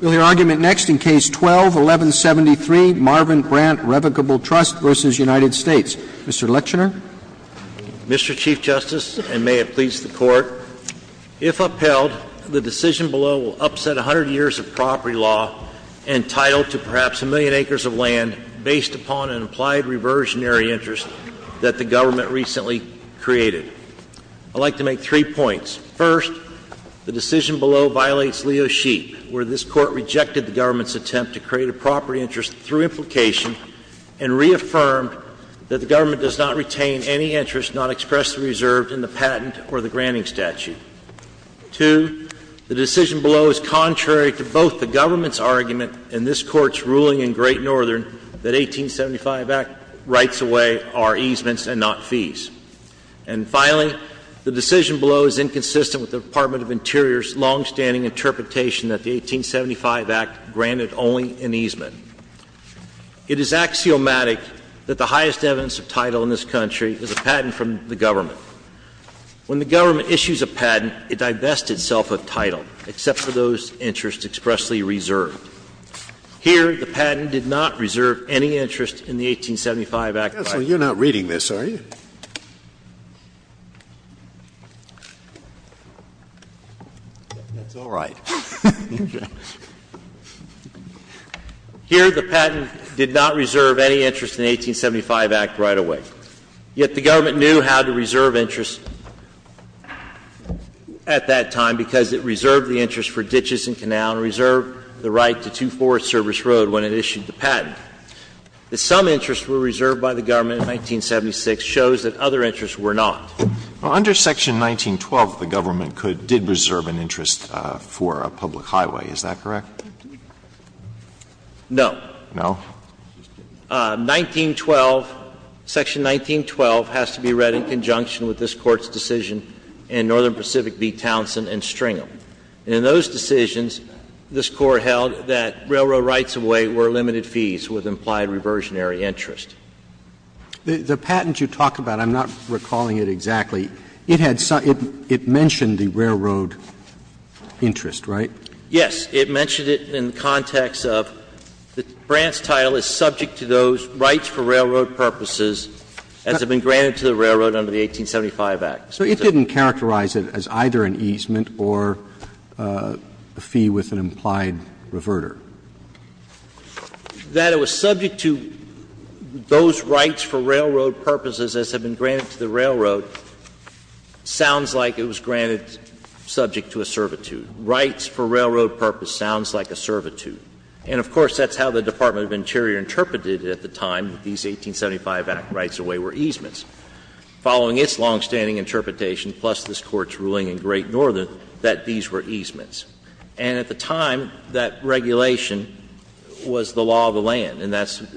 We'll hear argument next in Case 12-1173, Marvin Brandt Revocable Trust v. United States. Mr. Lechner. Mr. Chief Justice, and may it please the Court, if upheld, the decision below will upset 100 years of property law entitled to perhaps a million acres of land based upon an implied reversionary interest that the government recently created. I'd like to make three points. First, the decision below violates Leo Sheep, where this Court rejected the government's attempt to create a property interest through implication and reaffirmed that the government does not retain any interest not expressed or reserved in the patent or the granting statute. Two, the decision below is contrary to both the government's argument and this Court's ruling in Great Northern that 1875 rights away are easements and not fees. And finally, the decision below is inconsistent with the Department of Interior's longstanding interpretation that the 1875 Act granted only an easement. It is axiomatic that the highest evidence of title in this country is a patent from the government. When the government issues a patent, it divests itself of title, except for those interests expressly reserved. Here, the patent did not reserve any interest in the 1875 Act rights. Scalia, you're not reading this, are you? That's all right. Here, the patent did not reserve any interest in the 1875 Act right away. Yet the government knew how to reserve interest at that time because it reserved the interest for ditches and canal and reserved the right to two forest service road when it issued the patent. The fact that some interests were reserved by the government in 1976 shows that other interests were not. Under Section 1912, the government did reserve an interest for a public highway. Is that correct? No. No? 1912, Section 1912 has to be read in conjunction with this Court's decision in Northern Pacific v. Townsend and Stringham. And in those decisions, this Court held that railroad rights of way were limited fees with implied reversionary interest. The patent you talk about, I'm not recalling it exactly, it had some – it mentioned the railroad interest, right? Yes. It mentioned it in the context of that Brandt's title is subject to those rights for railroad purposes as had been granted to the railroad under the 1875 Act. So it didn't characterize it as either an easement or a fee with an implied reverter. That it was subject to those rights for railroad purposes as had been granted to the railroad sounds like it was granted subject to a servitude. Rights for railroad purpose sounds like a servitude. And, of course, that's how the Department of Interior interpreted it at the time that these 1875 Act rights of way were easements. Following its longstanding interpretation, plus this Court's ruling in Great Northern, that these were easements. And at the time, that regulation was the law of the land, and that's –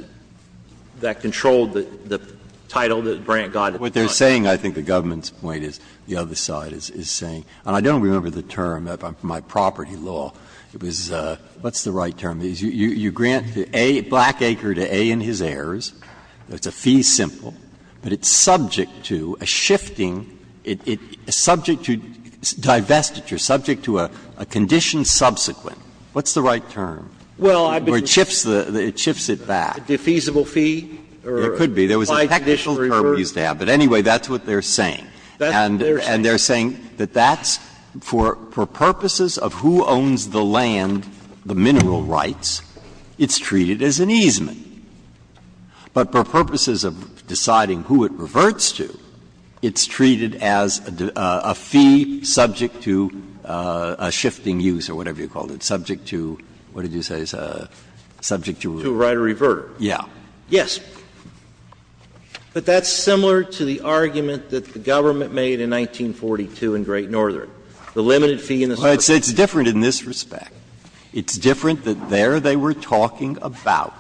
that controlled the title that Brandt got at the time. Breyer. What they're saying, I think the government's point is, the other side is saying – and I don't remember the term, my property law. It was – what's the right term? You grant to A, Blackacre, to A and his heirs. It's a fee simple, but it's subject to a shifting – it's subject to divestiture, subject to a condition subsequent. What's the right term? Or it shifts the – it shifts it back. A defeasible fee? Or implied conditional reverter? There could be. There was a technical term used to have. But anyway, that's what they're saying. And they're saying that that's for purposes of who owns the land, the mineral rights, it's treated as an easement. But for purposes of deciding who it reverts to, it's treated as a fee subject to a shifting use or whatever you call it, subject to – what did you say? Subject to a – To a right of revert. Yeah. Yes. But that's similar to the argument that the government made in 1942 in Great Northern, the limited fee in the South. It's different in this respect. It's different that there they were talking about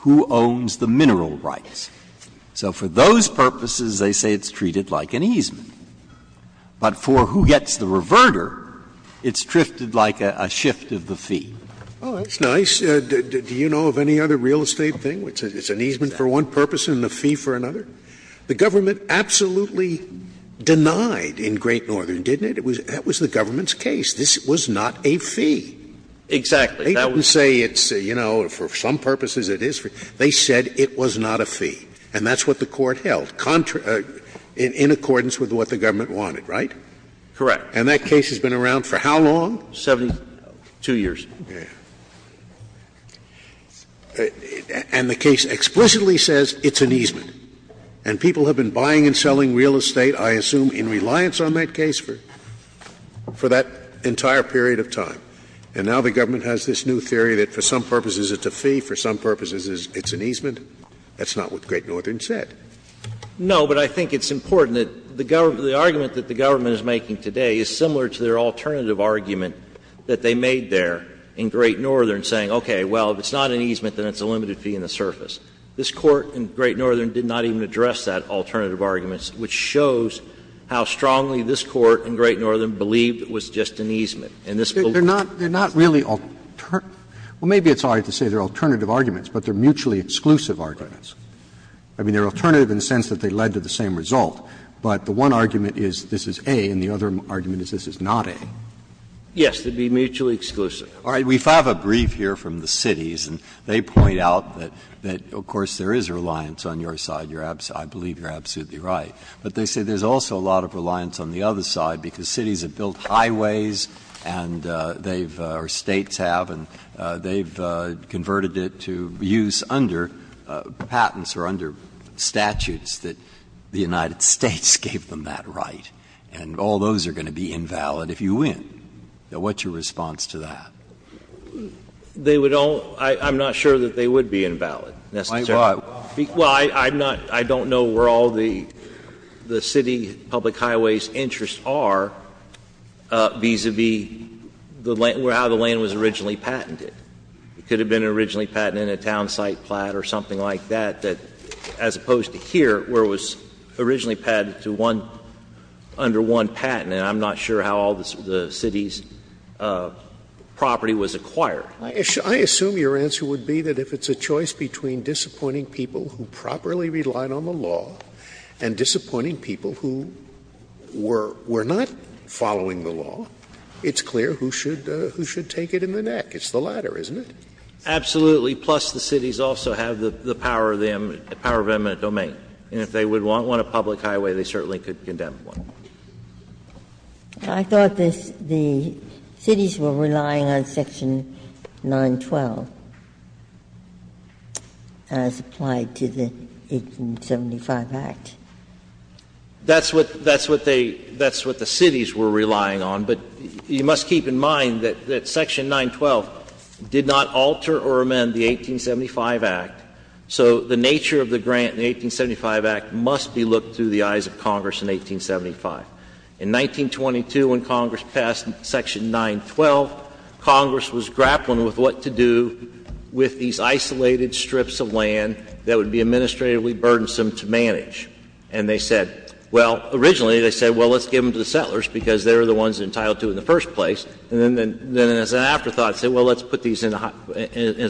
who owns the mineral rights. So for those purposes, they say it's treated like an easement. But for who gets the reverter, it's drifted like a shift of the fee. Oh, that's nice. Do you know of any other real estate thing where it's an easement for one purpose and a fee for another? The government absolutely denied in Great Northern, didn't it? That was the government's case. This was not a fee. Exactly. They didn't say it's, you know, for some purposes it is. They said it was not a fee. And that's what the Court held, in accordance with what the government wanted, right? Correct. And that case has been around for how long? 72 years. And the case explicitly says it's an easement. And people have been buying and selling real estate, I assume, in reliance on that case for that entire period of time. And now the government has this new theory that for some purposes it's a fee, for some purposes it's an easement. That's not what Great Northern said. No, but I think it's important that the government — the argument that the government is making today is similar to their alternative argument that they made there in Great Northern, saying, okay, well, if it's not an easement, then it's a limited fee in the surface. This Court in Great Northern did not even address that alternative argument, which shows how strongly this Court in Great Northern believed it was just an easement. And this belief was just an easement. They're not — they're not really — well, maybe it's all right to say they're alternative arguments, but they're mutually exclusive arguments. I mean, they're alternative in the sense that they led to the same result, but the one argument is this is A and the other argument is this is not A. Yes, they'd be mutually exclusive. All right. We have a brief here from the cities, and they point out that, of course, there is reliance on your side. I believe you're absolutely right. But they say there's also a lot of reliance on the other side because cities have highways and they've — or States have, and they've converted it to use under patents or under statutes that the United States gave them that right. And all those are going to be invalid if you win. Now, what's your response to that? They would all — I'm not sure that they would be invalid, necessarily. Why? Well, I'm not — I don't know where all the city public highways' interests are vis-a-vis the — how the land was originally patented. It could have been originally patented in a town site plot or something like that, as opposed to here, where it was originally patented to one — under one patent, and I'm not sure how all the city's property was acquired. I assume your answer would be that if it's a choice between disappointing people who properly relied on the law and disappointing people who were not following the law, it's clear who should take it in the neck. It's the latter, isn't it? Absolutely. Plus, the cities also have the power of eminent domain. And if they would want one, a public highway, they certainly could condemn one. Ginsburg I thought the cities were relying on Section 912 as applied to the 1875 Act. That's what they — that's what the cities were relying on. But you must keep in mind that Section 912 did not alter or amend the 1875 Act. So the nature of the grant in the 1875 Act must be looked through the eyes of Congress in 1875. In 1922, when Congress passed Section 912, Congress was grappling with what to do with these isolated strips of land that would be administratively burdensome to manage. And they said — well, originally they said, well, let's give them to the settlers because they're the ones entitled to in the first place. And then as an afterthought, they said, well, let's put these as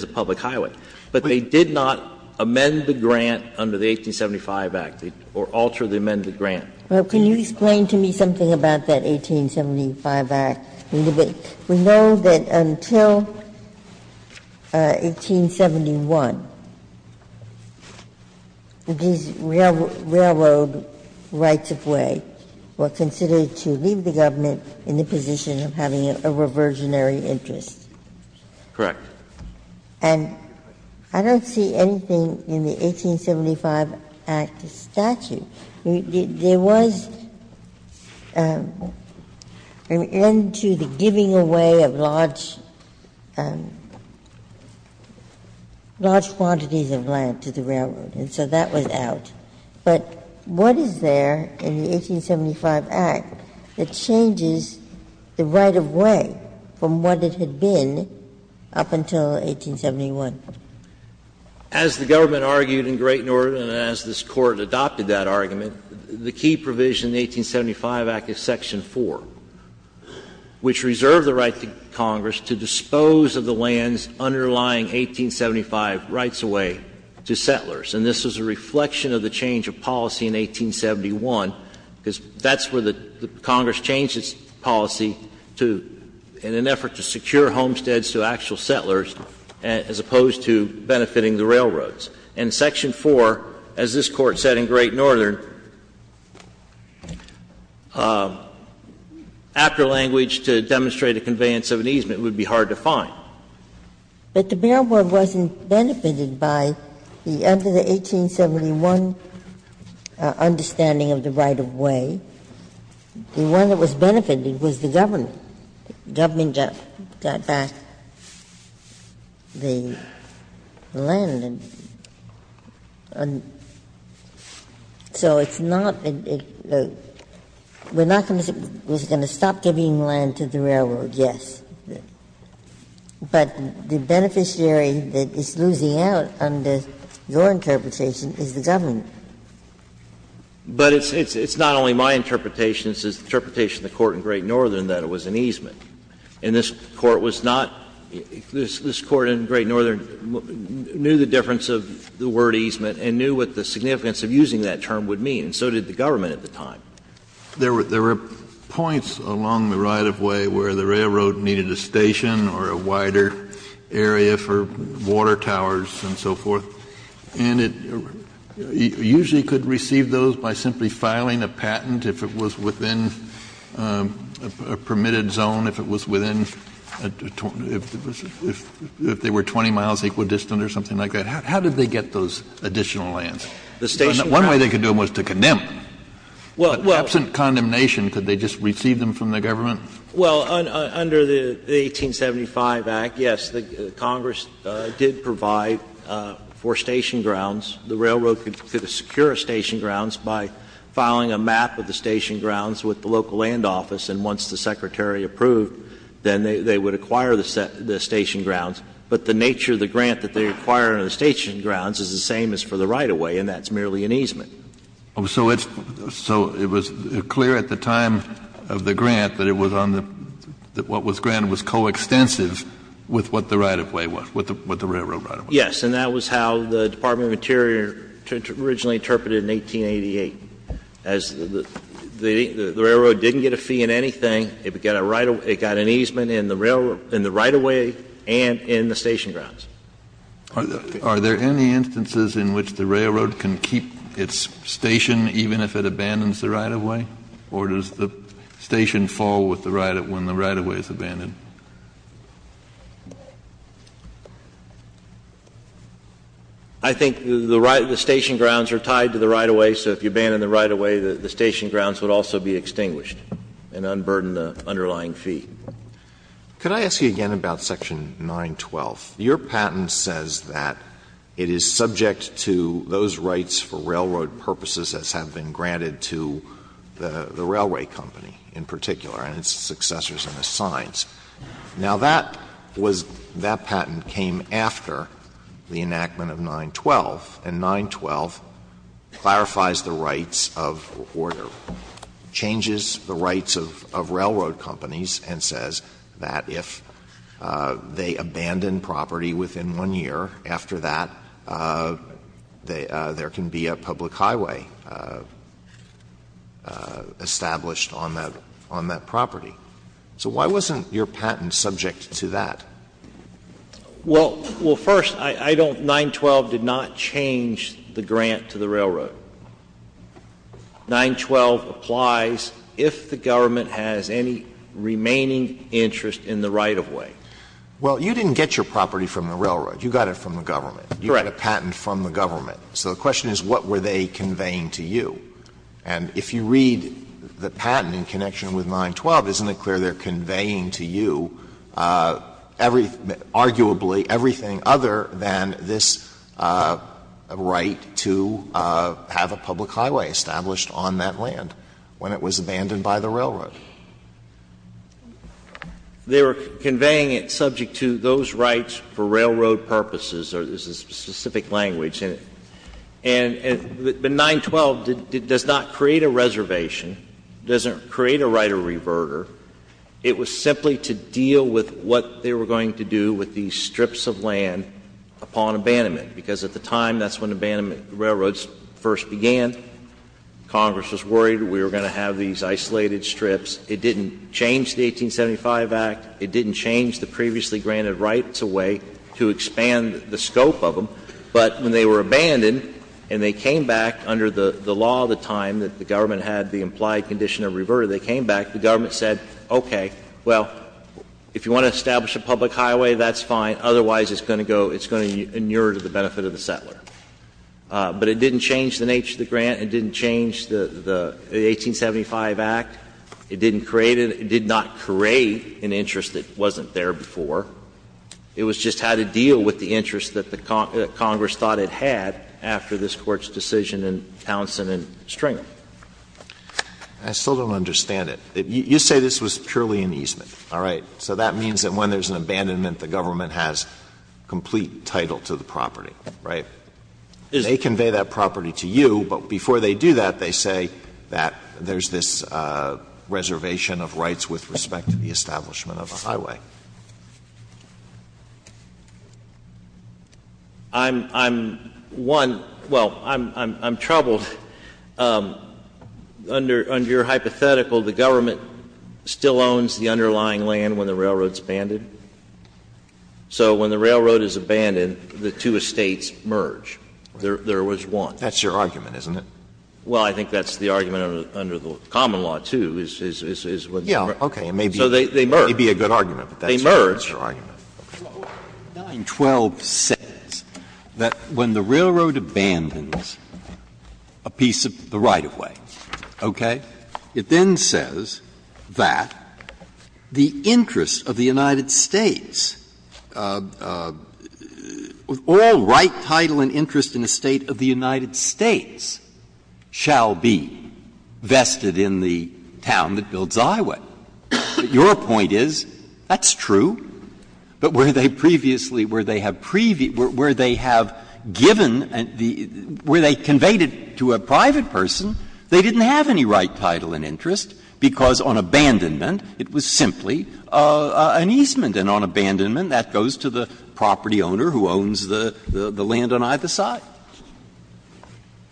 a public highway. But they did not amend the grant under the 1875 Act or alter the amended grant. Ginsburg Well, can you explain to me something about that 1875 Act? We know that until 1871, these railroad rights-of-way were considered to leave the government in the position of having a reversionary interest. Waxman Correct. Ginsburg And I don't see anything in the 1875 Act statute. There was an end to the giving away of large — large quantities of land to the railroad. And so that was out. But what is there in the 1875 Act that changes the right-of-way from what it had been up until 1871? Waxman As the government argued in Great Northern and as this Court adopted that argument, the key provision in the 1875 Act is Section 4, which reserved the right to Congress to dispose of the land's underlying 1875 rights-of-way to settlers. And this was a reflection of the change of policy in 1871, because that's where the Congress changed its policy to — in an effort to secure homesteads to actual settlers as opposed to benefiting the railroads. And Section 4, as this Court said in Great Northern, after language to demonstrate a conveyance of an easement would be hard to find. But the railroad wasn't benefited by the — under the 1871 understanding of the right-of-way. The one that was benefited was the government. The government got back the land. And so it's not — we're not going to — we're going to stop giving land to the railroad, yes. But the beneficiary that is losing out under your interpretation is the government. But it's not only my interpretation, it's the interpretation of the Court in Great Northern that it was an easement. And this Court was not — this Court in Great Northern knew the difference of the word easement and knew what the significance of using that term would mean, and so did the government at the time. Kennedy, there were points along the right-of-way where the railroad needed a station or a wider area for water towers and so forth, and it usually could receive those by simply filing a patent if it was within a permitted zone, if it was within a — if it was — if they were 20 miles equidistant or something like that. How did they get those additional lands? One way they could do it was to condemn them. But absent condemnation, could they just receive them from the government? Well, under the 1875 Act, yes, the Congress did provide for station grounds. The railroad could secure station grounds by filing a map of the station grounds with the local land office, and once the Secretary approved, then they would acquire the station grounds. But the nature of the grant that they acquire on the station grounds is the same as for the right-of-way, and that's merely an easement. Kennedy, so it's — so it was clear at the time of the grant that it was on the — that what was granted was coextensive with what the right-of-way was, what the railroad right-of-way was? Yes, and that was how the Department of Interior originally interpreted it in 1888, as the railroad didn't get a fee in anything, it got a right — it got an easement in the railroad — in the right-of-way and in the station grounds. Are there any instances in which the railroad can keep its station even if it abandons the right-of-way, or does the station fall with the right — when the right-of-way is abandoned? I think the right — the station grounds are tied to the right-of-way, so if you abandon the right-of-way, the station grounds would also be extinguished and unburden the underlying fee. Alito, could I ask you again about section 912? Your patent says that it is subject to those rights for railroad purposes as have been granted to the railway company in particular and its successors and assigns. Now, that was — that patent came after the enactment of 912, and 912 clarifies the rights of — or changes the rights of railroad companies and says that if they abandon property within one year, after that, there can be a public highway established on that — on that property. So why wasn't your patent subject to that? Well, first, I don't — 912 did not change the grant to the railroad. 912 applies if the government has any remaining interest in the right-of-way. Well, you didn't get your property from the railroad. You got it from the government. Correct. You got a patent from the government. So the question is, what were they conveying to you? And if you read the patent in connection with 912, isn't it clear they're conveying to you, arguably, everything other than this right to have a public highway established on that land when it was abandoned by the railroad? They were conveying it subject to those rights for railroad purposes, or there's a specific language in it. And the 912 does not create a reservation, doesn't create a right of reverter. It was simply to deal with what they were going to do with these strips of land upon abandonment, because at the time, that's when abandonment railroads first began. Congress was worried we were going to have these isolated strips. It didn't change the 1875 Act. It didn't change the previously granted rights-of-way to expand the scope of them. But when they were abandoned and they came back under the law at the time that the government said, okay, well, if you want to establish a public highway, that's fine, otherwise it's going to go, it's going to inure to the benefit of the settler. But it didn't change the nature of the grant, it didn't change the 1875 Act, it didn't create it, it did not create an interest that wasn't there before. It was just how to deal with the interest that the Congress thought it had after this Court's decision in Townsend and Stringer. Alito, I still don't understand it. You say this was purely an easement, all right? So that means that when there's an abandonment, the government has complete title to the property, right? They convey that property to you, but before they do that, they say that there's this reservation of rights with respect to the establishment of a highway. I'm, I'm, one, well, I'm, I'm, I'm troubled. Under, under your hypothetical, the government still owns the underlying land when the railroad's abandoned. So when the railroad is abandoned, the two estates merge. There, there was one. That's your argument, isn't it? Well, I think that's the argument under the common law, too, is, is, is, is what they merge. Yeah, okay, it may be, it may be a good argument. But that's your, that's your argument. They merge. Breyer. 912 says that when the railroad abandons a piece of the right-of-way, okay, it then says that the interests of the United States, all right, title and interest in the State of the United States shall be vested in the town that builds Iowa. Your point is, that's true, but where they previously, where they have previewed where they have given the, where they conveyed it to a private person, they didn't have any right title and interest, because on abandonment, it was simply an easement. And on abandonment, that goes to the property owner who owns the, the land on either side.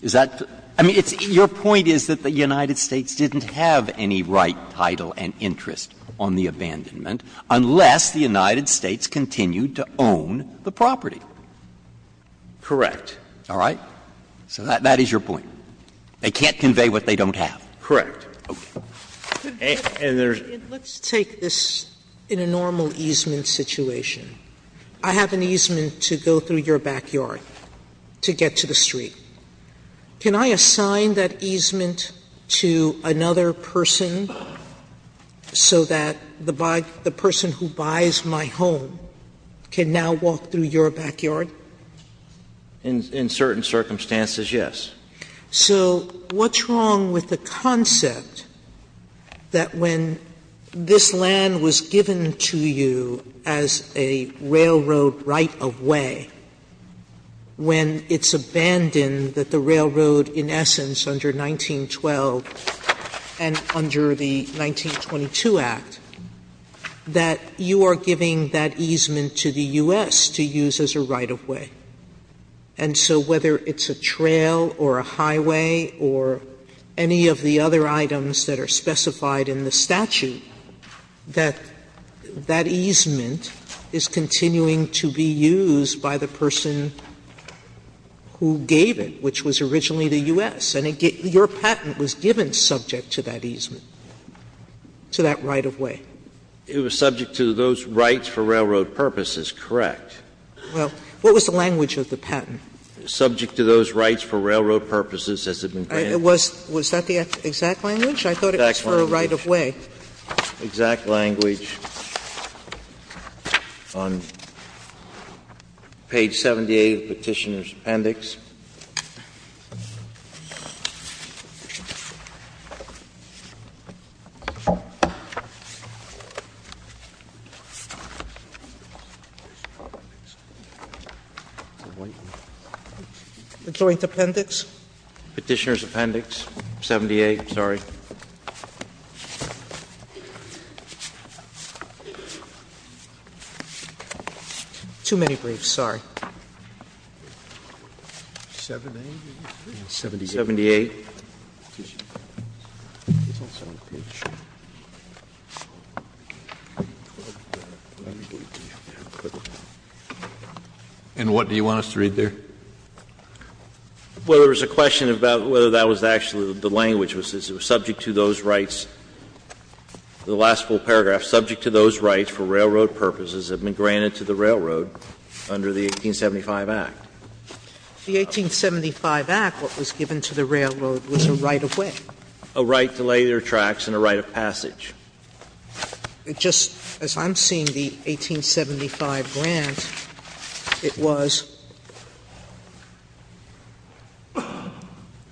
Is that, I mean, it's, your point is that the United States didn't have any right title and interest on the abandonment unless the United States continued to own the property. Correct. All right? So that, that is your point. They can't convey what they don't have. Correct. And there's Let's take this in a normal easement situation. I have an easement to go through your backyard to get to the street. Can I assign that easement to another person so that the, the person who buys my home can now walk through your backyard? In, in certain circumstances, yes. So what's wrong with the concept that when this land was given to you as a railroad right-of-way, when it's abandoned that the railroad, in essence, under 1912 and under the 1922 Act, that you are giving that easement to the U.S. to use as a right-of-way? And so whether it's a trail or a highway or any of the other items that are specified in the statute, that, that easement is continuing to be used by the person who gave it, which was originally the U.S. And your patent was given subject to that easement, to that right-of-way. It was subject to those rights for railroad purposes, correct. Well, what was the language of the patent? Subject to those rights for railroad purposes as it had been granted. Was, was that the exact language? I thought it was for a right-of-way. Exact language. On page 78 of the Petitioner's Appendix. The Joint Appendix? Petitioner's Appendix, 78, sorry. Too many briefs, sorry. 78. And what do you want us to read there? Well, there was a question about whether that was actually the language, was it subject to those rights. The last full paragraph, subject to those rights for railroad purposes as it had been granted to the railroad under the 1875 Act. The 1875 Act, what was given to the railroad was a right-of-way. The 1875 Act was a right-of-way, and it was a right-of-passage in easement. It just, as I'm seeing the 1875 grant, it was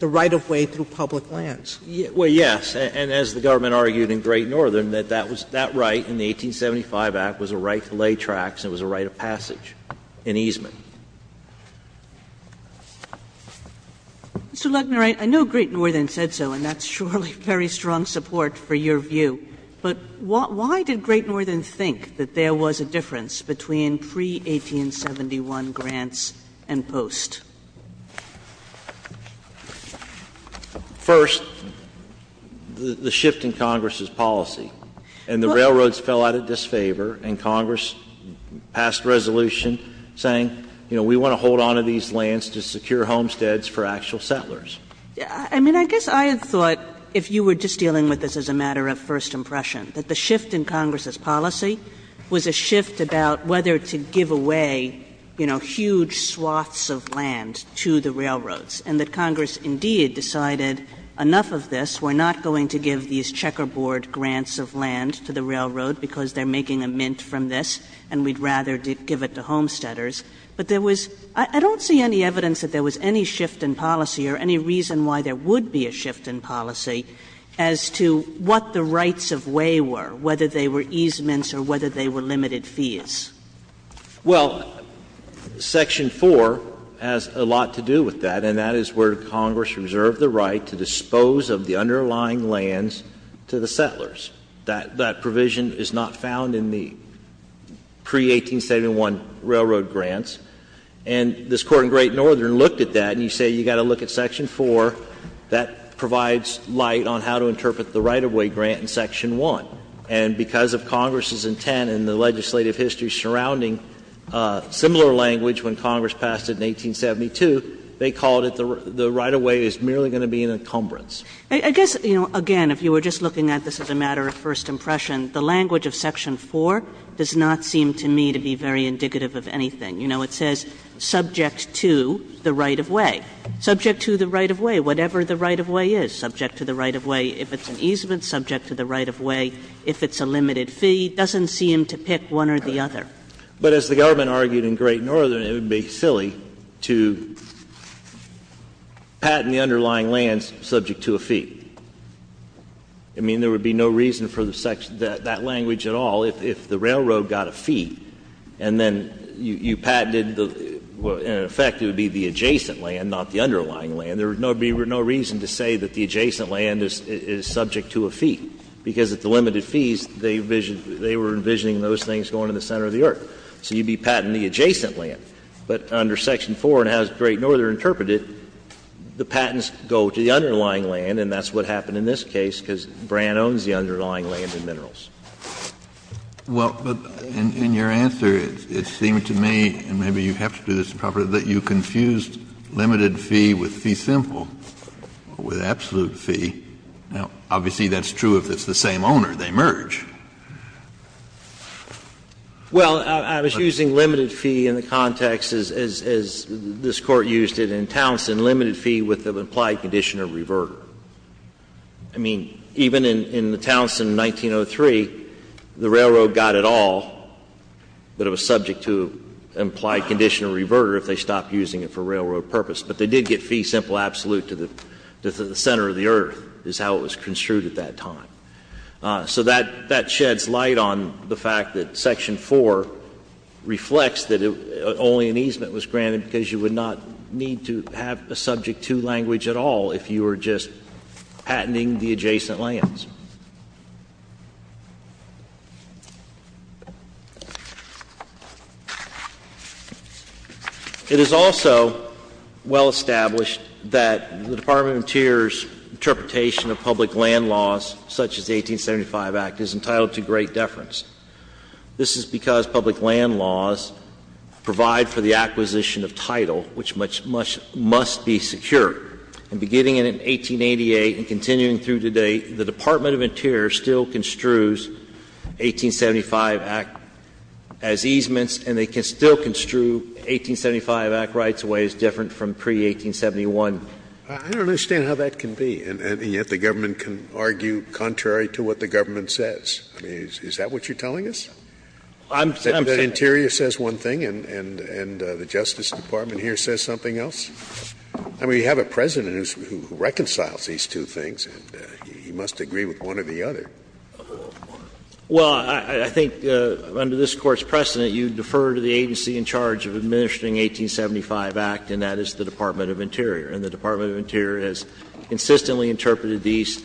the right-of-way through public lands. Well, yes, and as the government argued in Great Northern, that that was, that right in the 1875 Act was a right-of-way, and it was a right-of-passage in easement. Kagan. Mr. Leckner, I know Great Northern said so, and that's surely very strong support for your view, but why did Great Northern think that there was a difference between pre-1871 grants and post? First, the shift in Congress's policy, and the railroads fell out of disfavor, and Congress passed resolution saying, you know, we want to hold on to these lands to secure homesteads for actual settlers. I mean, I guess I had thought, if you were just dealing with this as a matter of first impression, that the shift in Congress's policy was a shift about whether to give away, you know, huge swaths of land to the railroads, and that Congress indeed decided enough of this, we're not going to give these checkerboard grants of land to the railroad because they're making a mint from this, and we'd rather give it to homesteaders. But there was — I don't see any evidence that there was any shift in policy or any reason why there would be a shift in policy as to what the rights-of-way were, whether they were easements or whether they were limited fees. Well, Section 4 has a lot to do with that, and that is where Congress reserved the right to dispose of the underlying lands to the settlers. That provision is not found in the pre-1871 railroad grants. And this Court in Great Northern looked at that, and you say you've got to look at Section 4. That provides light on how to interpret the right-of-way grant in Section 1. And because of Congress's intent and the legislative history surrounding similar language when Congress passed it in 1872, they called it the right-of-way is merely going to be an encumbrance. I guess, you know, again, if you were just looking at this as a matter of first impression, the language of Section 4 does not seem to me to be very indicative of anything. You know, it says subject to the right-of-way. Subject to the right-of-way, whatever the right-of-way is, subject to the right-of-way if it's an easement, subject to the right-of-way if it's a limited fee, doesn't seem to pick one or the other. But as the government argued in Great Northern, it would be silly to patent the underlying land subject to a fee. I mean, there would be no reason for that language at all if the railroad got a fee and then you patented the — in effect, it would be the adjacent land, not the underlying land. There would be no reason to say that the adjacent land is subject to a fee, because at the limited fees, they were envisioning those things going to the center of the earth. So you'd be patenting the adjacent land. But under Section 4, and as Great Northern interpreted, the patents go to the underlying land, and that's what happened in this case, because Brand owns the underlying land and minerals. Kennedy, in your answer, it seemed to me, and maybe you have to do this properly, that you confused limited fee with fee simple, with absolute fee. Now, obviously, that's true if it's the same owner. They merge. Well, I was using limited fee in the context, as this Court used it in Townsend, limited fee with the implied condition of reverter. I mean, even in the Townsend in 1903, the railroad got it all, but it was subject to an implied condition of reverter if they stopped using it for railroad purpose. But they did get fee simple absolute to the center of the earth, is how it was construed at that time. So that sheds light on the fact that Section 4 reflects that only an easement was granted because you would not need to have a subject to language at all if you were just patenting the adjacent lands. It is also well established that the Department of Interior's interpretation of public land laws, such as the 1875 Act, is entitled to great deference. This is because public land laws provide for the acquisition of title, which must be secure. And beginning in 1888 and continuing through today, the Department of Interior still construes 1875 Act as easements, and they can still construe 1875 Act rights in ways different from pre-1871. Scalia I don't understand how that can be, and yet the government can argue contrary to what the government says. I mean, is that what you're telling us, that Interior says one thing and the Justice Department here says something else? I mean, you have a President who reconciles these two things, and he must agree with one or the other. Verrilli, I think under this Court's precedent, you defer to the agency in charge of administering 1875 Act, and that is the Department of Interior. And the Department of Interior has consistently interpreted these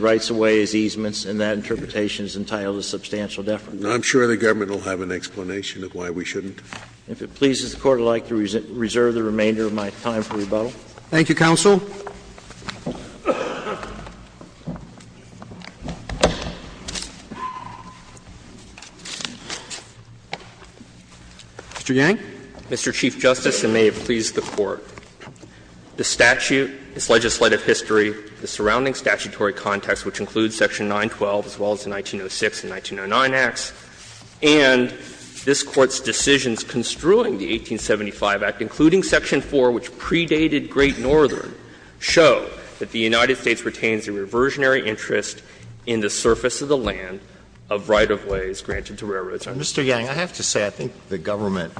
rights away as easements, and that interpretation is entitled to substantial deference. Scalia I'm sure the government will have an explanation of why we shouldn't. Verrilli, if it pleases the Court, I'd like to reserve the remainder of my time for rebuttal. Roberts Thank you, counsel. Mr. Yang. Yang Mr. Chief Justice, and may it please the Court, the statute, its legislative history, the surrounding statutory context, which includes Section 912 as well as the 1906 and 1909 Acts, and this Court's decisions construing the 1875 Act, including Section 4, which predated Great Northern, show that the United States retains a reversionary interest in the surface of the land of right-of-ways granted to railroads. Alito Mr. Yang, I have to say I think the government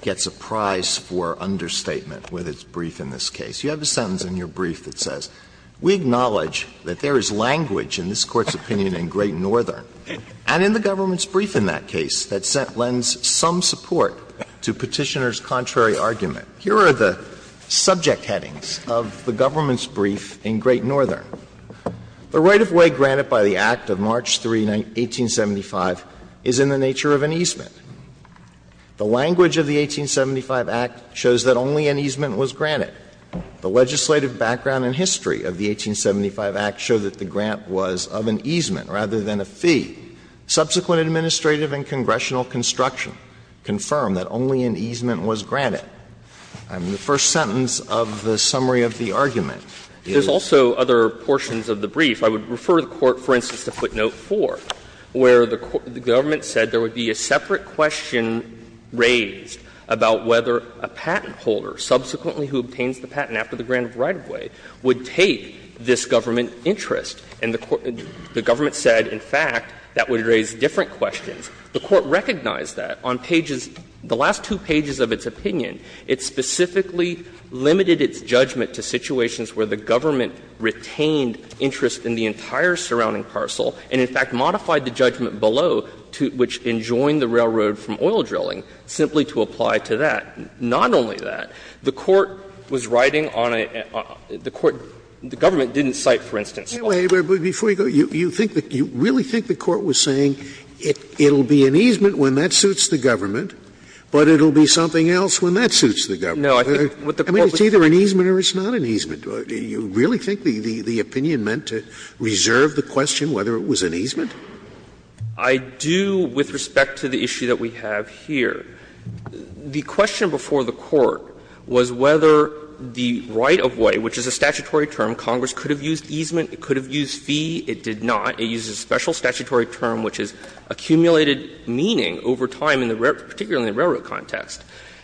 gets a prize for understatement with its brief in this case. You have a sentence in your brief that says, We acknowledge that there is language in this Court's opinion in Great Northern, and in the government's brief in that case that lends some support to Petitioner's contrary argument. Here are the subject headings of the government's brief in Great Northern. The right-of-way granted by the Act of March 3, 1875, is in the nature of an easement. The language of the 1875 Act shows that only an easement was granted. The legislative background and history of the 1875 Act show that the grant was of an easement rather than a fee. Subsequent administrative and congressional construction confirm that only an easement was granted. I mean, the first sentence of the summary of the argument is And there are also other portions of the brief. I would refer the Court, for instance, to footnote 4, where the government said there would be a separate question raised about whether a patent holder, subsequently who obtains the patent after the grant of right-of-way, would take this government interest. And the government said, in fact, that would raise different questions. The Court recognized that on pages — the last two pages of its opinion. It specifically limited its judgment to situations where the government retained interest in the entire surrounding parcel and, in fact, modified the judgment below, which enjoined the railroad from oil drilling, simply to apply to that. Not only that, the Court was writing on a — the Court — the government didn't cite, for instance, Scalia. Scalia, but before you go, you think that — you really think the Court was saying it will be an easement when that suits the government, but it will be something else when that suits the government? I mean, it's either an easement or it's not an easement. Do you really think the opinion meant to reserve the question whether it was an easement? Yang, I do with respect to the issue that we have here. The question before the Court was whether the right-of-way, which is a statutory term, Congress could have used easement, it could have used fee, it did not. It uses a special statutory term which has accumulated meaning over time in the — particularly in the railroad context.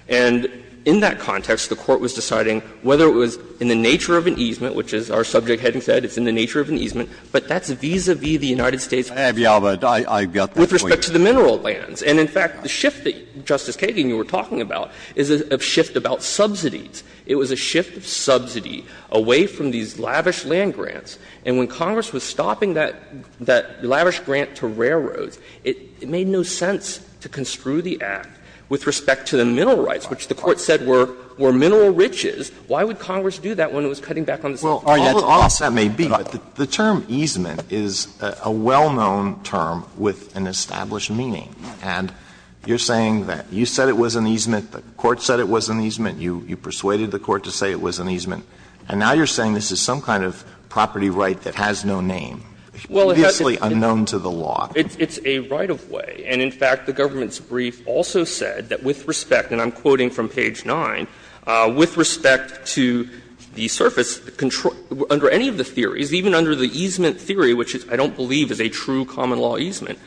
And in that context, the Court was deciding whether it was in the nature of an easement, which is our subject heading said, it's in the nature of an easement, but that's vis-a-vis the United States'— I have the alibi. I got that for you. With respect to the mineral lands. And in fact, the shift that, Justice Kagan, you were talking about is a shift about subsidies. It was a shift of subsidy away from these lavish land grants. And when Congress was stopping that lavish grant to railroads, it made no sense to construe the Act with respect to the mineral rights, which the Court said were mineral riches. Why would Congress do that when it was cutting back on the subsidies? Alitos, that may be, but the term easement is a well-known term with an established meaning. And you're saying that you said it was an easement, the Court said it was an easement, you persuaded the Court to say it was an easement, and now you're saying this is some kind of property right that has no name, previously unknown to the law. It's a right-of-way. And in fact, the government's brief also said that with respect, and I'm quoting from page 9, with respect to the surface, under any of the theories, even under the easement theory, which I don't believe is a true common law easement,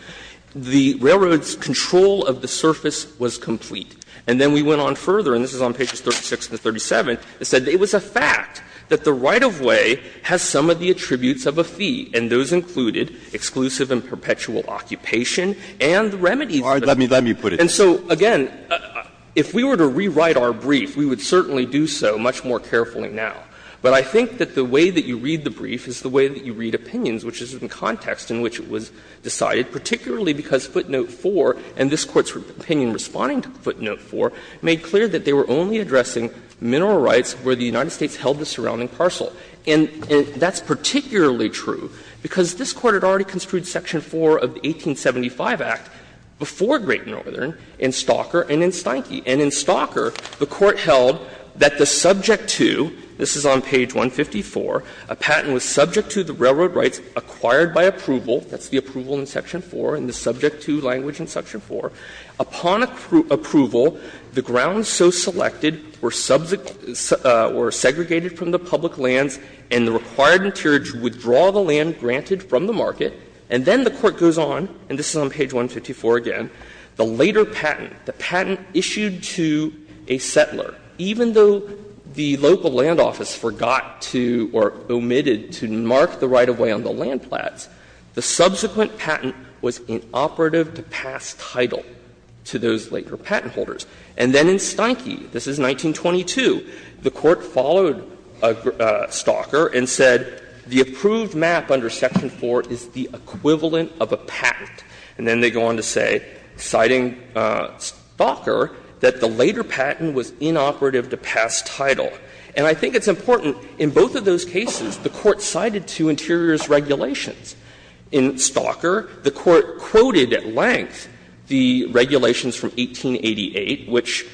the railroad's control of the surface was complete. And then we went on further, and this is on pages 36 and 37, it said it was a fact that the right-of-way has some of the attributes of a fee, and those included exclusive and perpetual occupation and the remedies of the fee. Breyer, let me put it this way. And so, again, if we were to rewrite our brief, we would certainly do so much more carefully now. But I think that the way that you read the brief is the way that you read opinions, which is in context in which it was decided, particularly because Footnote 4 and this Court's opinion responding to Footnote 4 made clear that they were only addressing mineral rights where the United States held the surrounding parcel. And that's particularly true, because this Court had already construed section 4 of the 1875 Act before Great Northern in Stalker and in Steinke. And in Stalker, the Court held that the subject to, this is on page 154, a patent was subject to the railroad rights acquired by approval, that's the approval in section 4 and the subject to language in section 4, upon approval, the grounds so selected were segregated from the public lands and the required interior to withdraw the land granted from the market, and then the Court goes on, and this is on page 154 again, the later patent, the patent issued to a settler, even though the local land office forgot to or omitted to mark the right-of-way on the land plats, the subsequent patent was inoperative to pass title to those later patent holders. And then in Steinke, this is 1922, the Court followed Stalker and said the approved map under section 4 is the equivalent of a patent. And then they go on to say, citing Stalker, that the later patent was inoperative to pass title. And I think it's important, in both of those cases, the Court cited two interiors regulations. In Stalker, the Court quoted at length the regulations from 1888, which,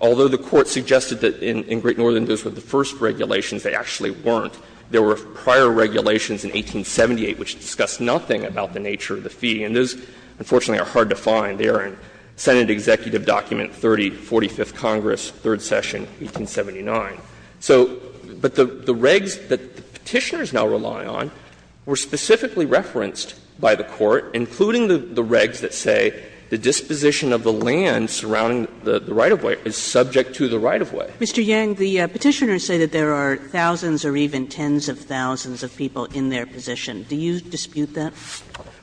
although the Court suggested that in Great Northern those were the first regulations, they actually weren't. There were prior regulations in 1878 which discussed nothing about the nature of the fee, and those, unfortunately, are hard to find. They are in Senate Executive Document 30, 45th Congress, Third Session, 1879. So, but the regs that Petitioners now rely on were specifically referenced by the Court, including the regs that say the disposition of the land surrounding the right-of-way is subject to the right-of-way. Kagan, the Petitioners say that there are thousands or even tens of thousands of people in their position. Do you dispute that?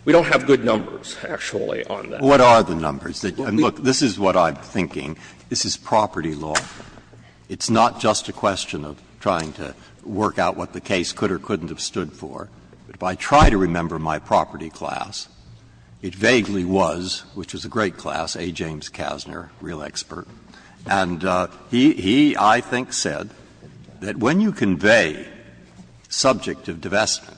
We don't have good numbers, actually, on that. Breyer, what are the numbers? Look, this is what I'm thinking. This is property law. It's not just a question of trying to work out what the case could or couldn't have stood for. If I try to remember my property class, it vaguely was, which was a great class, A. James Kasner, real expert. And he, I think, said that when you convey subject of divestment,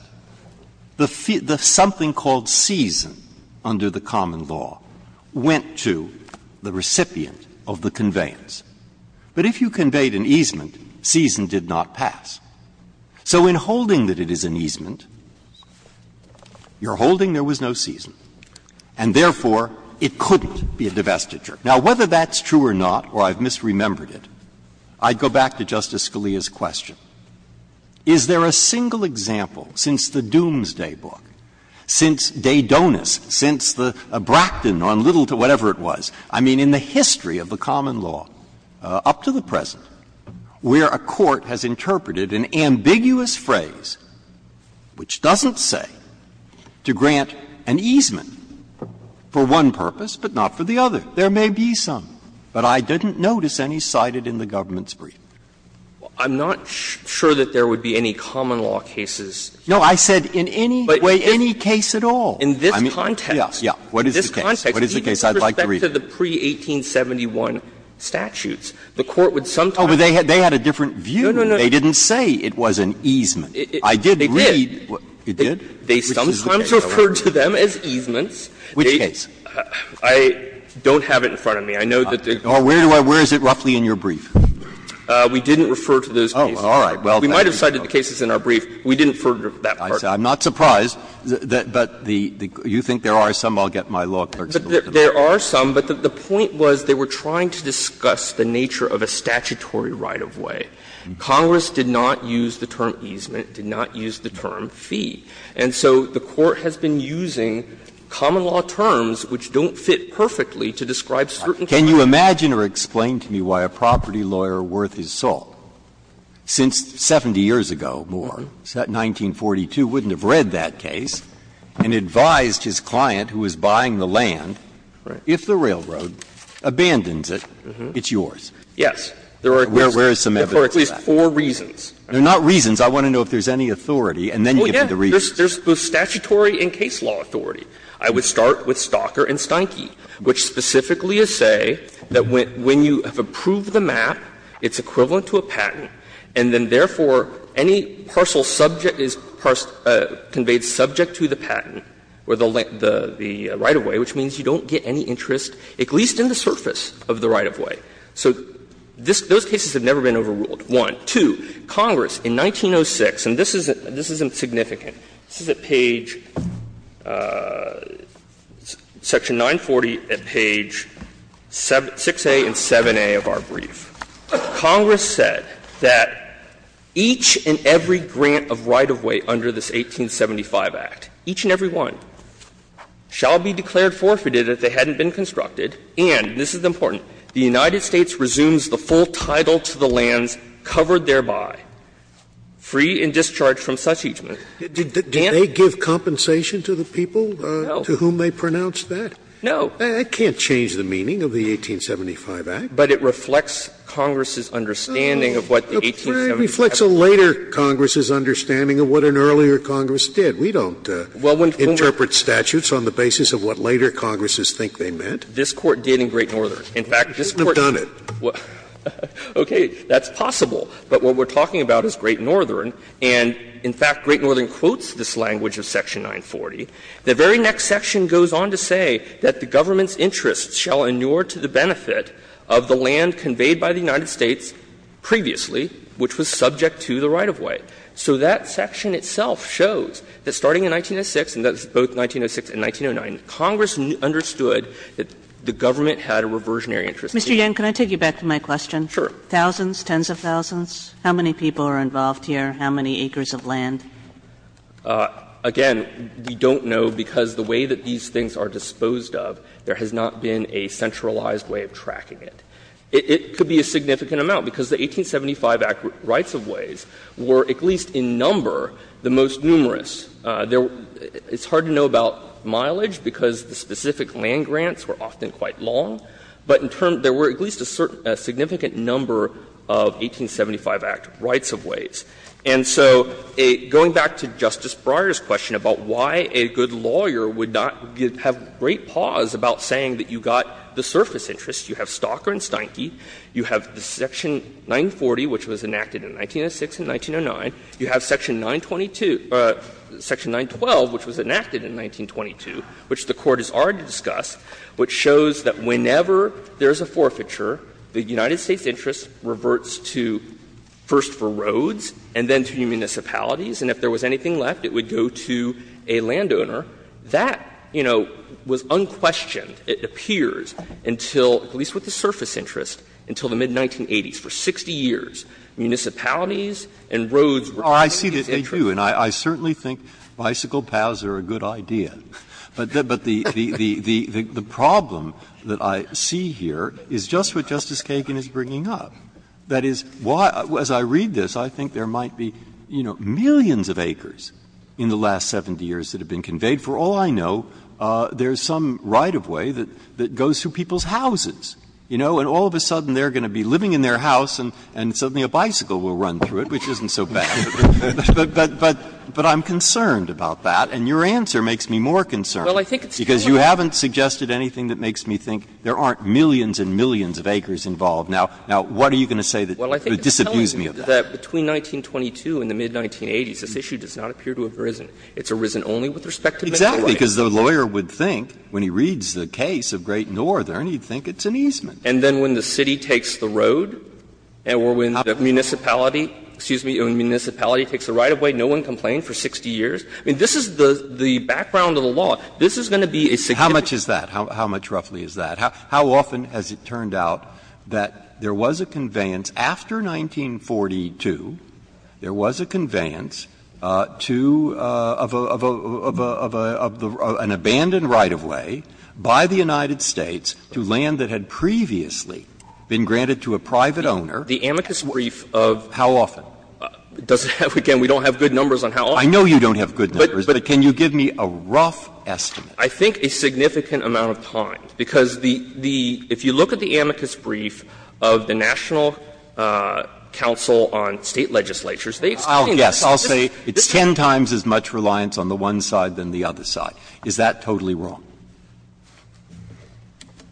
the fee, the something called season under the common law went to the recipient of the conveyance. But if you conveyed an easement, season did not pass. So in holding that it is an easement, you're holding there was no season, and therefore it couldn't be a divestiture. Now, whether that's true or not, or I've misremembered it, I'd go back to Justice Scalia's question. Is there a single example since the Doomsday Book, since De Donis, since the Bracton case, where a court has interpreted an ambiguous phrase, which doesn't say, to grant an easement for one purpose but not for the other? There may be some, but I didn't notice any cited in the government's brief. I'm not sure that there would be any common law cases. No, I said in any way, any case at all. Breyer, what is the case? I'd like to read it. With respect to the pre-1871 statutes, the court would sometimes. Oh, but they had a different view. No, no, no. They didn't say it was an easement. I did read. They did. It did? They sometimes referred to them as easements. Which case? I don't have it in front of me. I know that the. Where is it roughly in your brief? We didn't refer to those cases. Oh, all right. We might have cited the cases in our brief. We didn't refer to that part. I'm not surprised. But you think there are some? I'll get my law clerks to look at them. There are some, but the point was they were trying to discuss the nature of a statutory right-of-way. Congress did not use the term easement, did not use the term fee. And so the Court has been using common law terms which don't fit perfectly to describe certain cases. Can you imagine or explain to me why a property lawyer worth his salt, since 70 years ago, more, 1942, wouldn't have read that case and advised his client, who was a property lawyer, who was buying the land, if the railroad abandons it, it's yours? Yes. There are at least four reasons. They're not reasons. I want to know if there's any authority and then give me the reasons. There's both statutory and case law authority. I would start with Stalker and Steinke, which specifically say that when you have approved the map, it's equivalent to a patent, and then, therefore, any parcel subject to the patent or the right-of-way, which means you don't get any interest, at least in the surface of the right-of-way. So those cases have never been overruled, one. Two, Congress in 1906, and this is insignificant, this is at page section 940, at page 6a and 7a of our brief, Congress said that each and every grant of right-of-way under this 1875 Act, each and every one, shall be declared forfeited if they hadn't been constructed, and, this is important, the United States resumes the full title to the lands covered thereby, free and discharged from such easement. Did they give compensation to the people to whom they pronounced that? No. That can't change the meaning of the 1875 Act. But it reflects Congress's understanding of what the 1875 Act. Scalia, it reflects a later Congress's understanding of what an earlier Congress did. We don't interpret statutes on the basis of what later Congresses think they meant. This Court did in Great Northern. In fact, this Court did in Great Northern. You wouldn't have done it. Okay. That's possible. But what we're talking about is Great Northern, and, in fact, Great Northern quotes this language of section 940. The very next section goes on to say that the government's interests shall inure to the benefit of the land conveyed by the United States previously, which was subject to the right-of-way. So that section itself shows that starting in 1906, and that's both 1906 and 1909, Congress understood that the government had a reversionary interest. Kagan, can I take you back to my question? Sure. Thousands, tens of thousands, how many people are involved here, how many acres of land? Again, we don't know, because the way that these things are disposed of, there has not been a centralized way of tracking it. It could be a significant amount, because the 1875 Act rights-of-ways were at least in number the most numerous. There were — it's hard to know about mileage, because the specific land grants were often quite long. But in terms — there were at least a significant number of 1875 Act rights-of-ways. And so going back to Justice Breyer's question about why a good lawyer would not have a great pause about saying that you got the surface interest, you have Stalker and Steinke, you have Section 940, which was enacted in 1906 and 1909, you have Section 922 — Section 912, which was enacted in 1922, which the Court has already discussed, which shows that whenever there is a forfeiture, the United States interest reverts to first for roads and then to municipalities, and if there was anything left, it would go to a landowner. That, you know, was unquestioned, it appears, until — at least with the surface interest, until the mid-1980s. For 60 years, municipalities and roads were the highest interest. Breyer, I see that they do, and I certainly think bicycle paths are a good idea. But the problem that I see here is just what Justice Kagan is bringing up. That is, as I read this, I think there might be, you know, millions of acres. In the last 70 years that have been conveyed, for all I know, there is some right of way that goes through people's houses, you know, and all of a sudden they are going to be living in their house and suddenly a bicycle will run through it, which isn't so bad. But I'm concerned about that, and your answer makes me more concerned. Because you haven't suggested anything that makes me think there aren't millions and millions of acres involved. Now, what are you going to say that would disabuse me of that? I'm saying that between 1922 and the mid-1980s, this issue does not appear to have arisen. It's arisen only with respect to the right of way. Exactly, because the lawyer would think, when he reads the case of Great Northern, he would think it's an easement. And then when the city takes the road, or when the municipality, excuse me, when the municipality takes the right of way, no one complained for 60 years? I mean, this is the background of the law. This is going to be a significant issue. How much is that? How much roughly is that? How often has it turned out that there was a conveyance after 1942, there was a conveyance to an abandoned right of way by the United States to land that had previously been granted to a private owner? The amicus brief of. How often? Again, we don't have good numbers on how often. I know you don't have good numbers, but can you give me a rough estimate? I think a significant amount of time, because the the – if you look at the amicus brief of the National Council on State Legislatures, they explain this as just 10 times as much reliance on the one side than the other side. Is that totally wrong?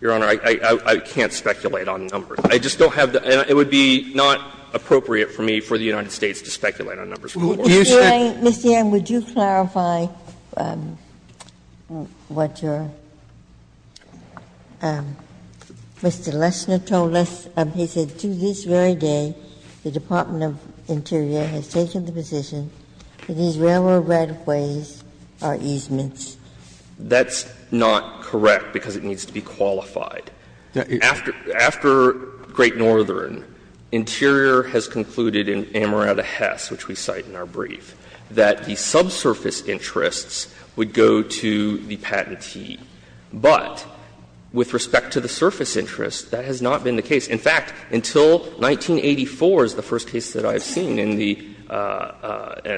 Your Honor, I can't speculate on numbers. I just don't have the – it would be not appropriate for me for the United States to speculate on numbers. Do you think – Ms. Ewing, would you clarify what your – Mr. Lesner told us? He said, to this very day, the Department of Interior has taken the position that these railroad right of ways are easements. That's not correct, because it needs to be qualified. After – after Great Northern, Interior has concluded in Amarato Hess, which we cite in our brief, that the subsurface interests would go to the patentee. But with respect to the surface interests, that has not been the case. In fact, until 1984 is the first case that I've seen in the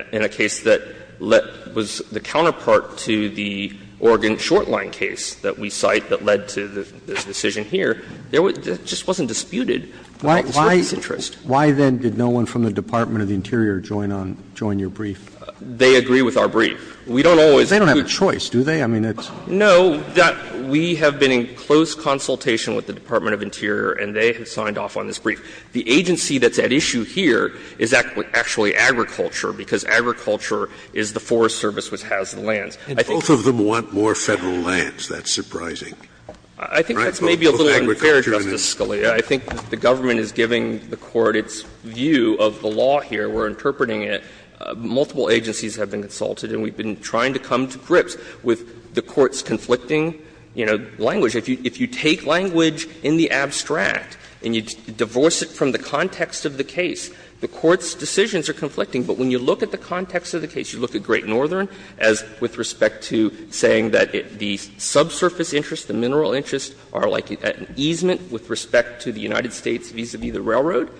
– in a case that was the counterpart to the Oregon short-line case that we cite that led to the decision here. There was – it just wasn't disputed about the surface interest. Why then did no one from the Department of the Interior join on – join your brief? They agree with our brief. We don't always – They don't have a choice, do they? I mean, it's – No. We have been in close consultation with the Department of Interior, and they have signed off on this brief. The agency that's at issue here is actually agriculture, because agriculture is the Forest Service, which has the lands. I think that's a little unfair, Justice Scalia. I think the government is giving the Court its view of the law here. We're interpreting it. Multiple agencies have been consulted, and we've been trying to come to grips with the Court's conflicting, you know, language. If you take language in the abstract and you divorce it from the context of the case, the Court's decisions are conflicting. But when you look at the context of the case, you look at Great Northern as with respect to saying that the subsurface interest, the mineral interest, are like at an easement with respect to the United States vis-a-vis the railroad.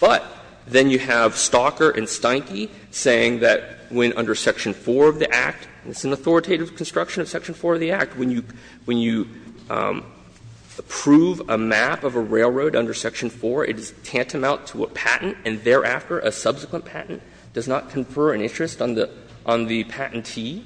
But then you have Stalker and Steinke saying that when under Section 4 of the Act – and it's an authoritative construction of Section 4 of the Act – when you – when you approve a map of a railroad under Section 4, it is tantamount to a patent and thereafter a subsequent patent does not confer an interest on the – on the patentee,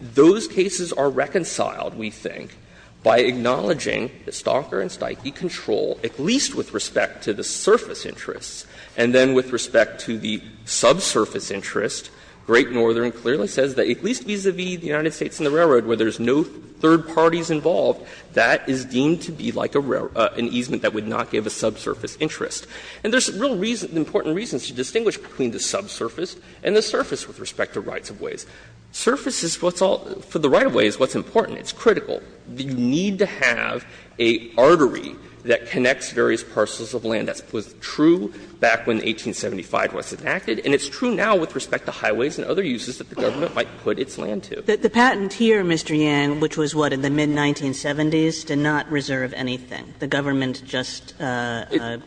those cases are reconciled, we think, by acknowledging that Stalker and Steinke control at least with respect to the surface interests. And then with respect to the subsurface interest, Great Northern clearly says that at least vis-a-vis the United States and the railroad where there's no third parties involved, that is deemed to be like a railroad – an easement that would not give a subsurface interest. And there's real reason – important reasons to distinguish between the subsurface and the surface with respect to rights of ways. Surface is what's all – for the right of ways, what's important, it's critical. You need to have a artery that connects various parcels of land. That was true back when 1875 was enacted, and it's true now with respect to highways and other uses that the government might put its land to. Kagan. The patent here, Mr. Yang, which was what, in the mid-1970s, did not reserve anything. The government just made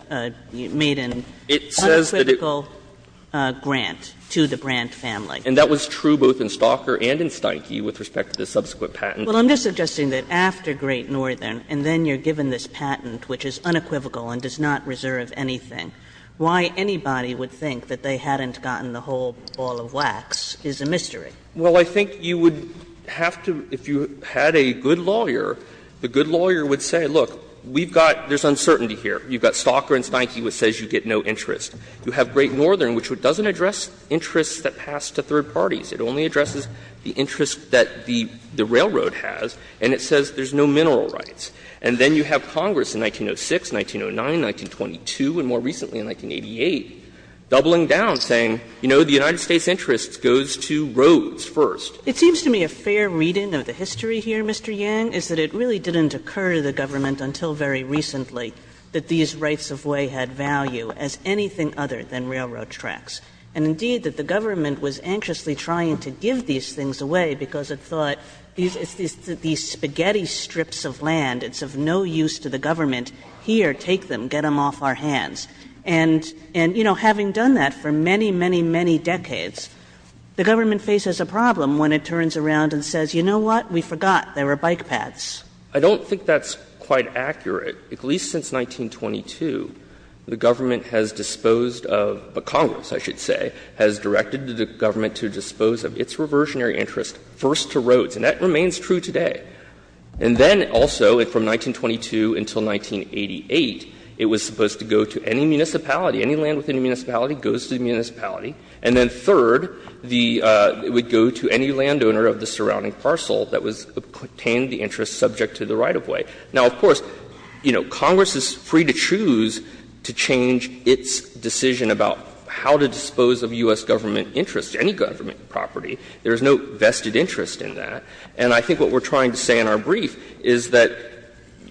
an unequivocal grant to the Brandt family. Yang, and that was true both in Stalker and in Steinke with respect to the subsequent patent. Kagan. Well, I'm just suggesting that after Great Northern and then you're given this patent, which is unequivocal and does not reserve anything, why anybody would think that they hadn't gotten the whole ball of wax is a mystery. Well, I think you would have to, if you had a good lawyer, the good lawyer would say, look, we've got, there's uncertainty here. You've got Stalker and Steinke, which says you get no interest. You have Great Northern, which doesn't address interests that pass to third parties. It only addresses the interest that the railroad has, and it says there's no mineral rights. And then you have Congress in 1906, 1909, 1922, and more recently in 1988, doubling down, saying, you know, the United States' interest goes to roads first. It seems to me a fair reading of the history here, Mr. Yang, is that it really didn't occur to the government until very recently that these rights of way had value as anything other than railroad tracks, and indeed that the government was anxiously trying to give these things away because it thought these spaghetti strips of land, it's of no use to the government, here, take them, get them off our hands. And, you know, having done that for many, many, many decades, the government faces a problem when it turns around and says, you know what, we forgot there were bike paths. Yang, I don't think that's quite accurate. At least since 1922, the government has disposed of the Congress, I should say, has directed the government to dispose of its reversionary interest first to roads, and that remains true today. And then also, from 1922 until 1988, it was supposed to go to any municipality. Any land within a municipality goes to the municipality. And then third, the — it would go to any landowner of the surrounding parcel that was — contained the interest subject to the right-of-way. Now, of course, you know, Congress is free to choose to change its decision about how to dispose of U.S. government interest, any government property. There is no vested interest in that. And I think what we're trying to say in our brief is that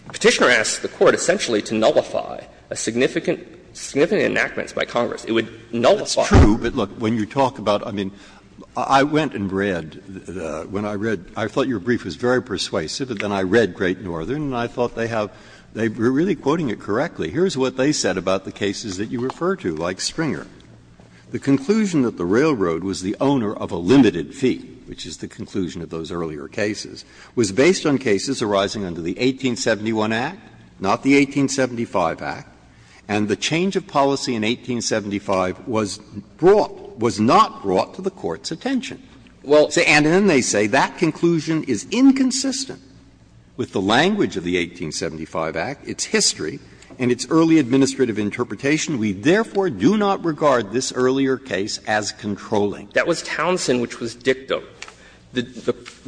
Petitioner asked the Court essentially to nullify a significant — significant enactments by Congress. It would nullify. Breyer. It's true, but look, when you talk about — I mean, I went and read when I read. I thought your brief was very persuasive, and then I read Great Northern, and I thought they have — they're really quoting it correctly. Here's what they said about the cases that you refer to, like Springer. The conclusion that the railroad was the owner of a limited fee, which is the conclusion of those earlier cases, was based on cases arising under the 1871 Act, not the 1875 Act, and the change of policy in 1875 was brought — was not brought to the Court's attention. And then they say that conclusion is inconsistent with the language of the 1875 Act, its history, and its early administrative interpretation. We therefore do not regard this earlier case as controlling. That was Townsend which was dictum.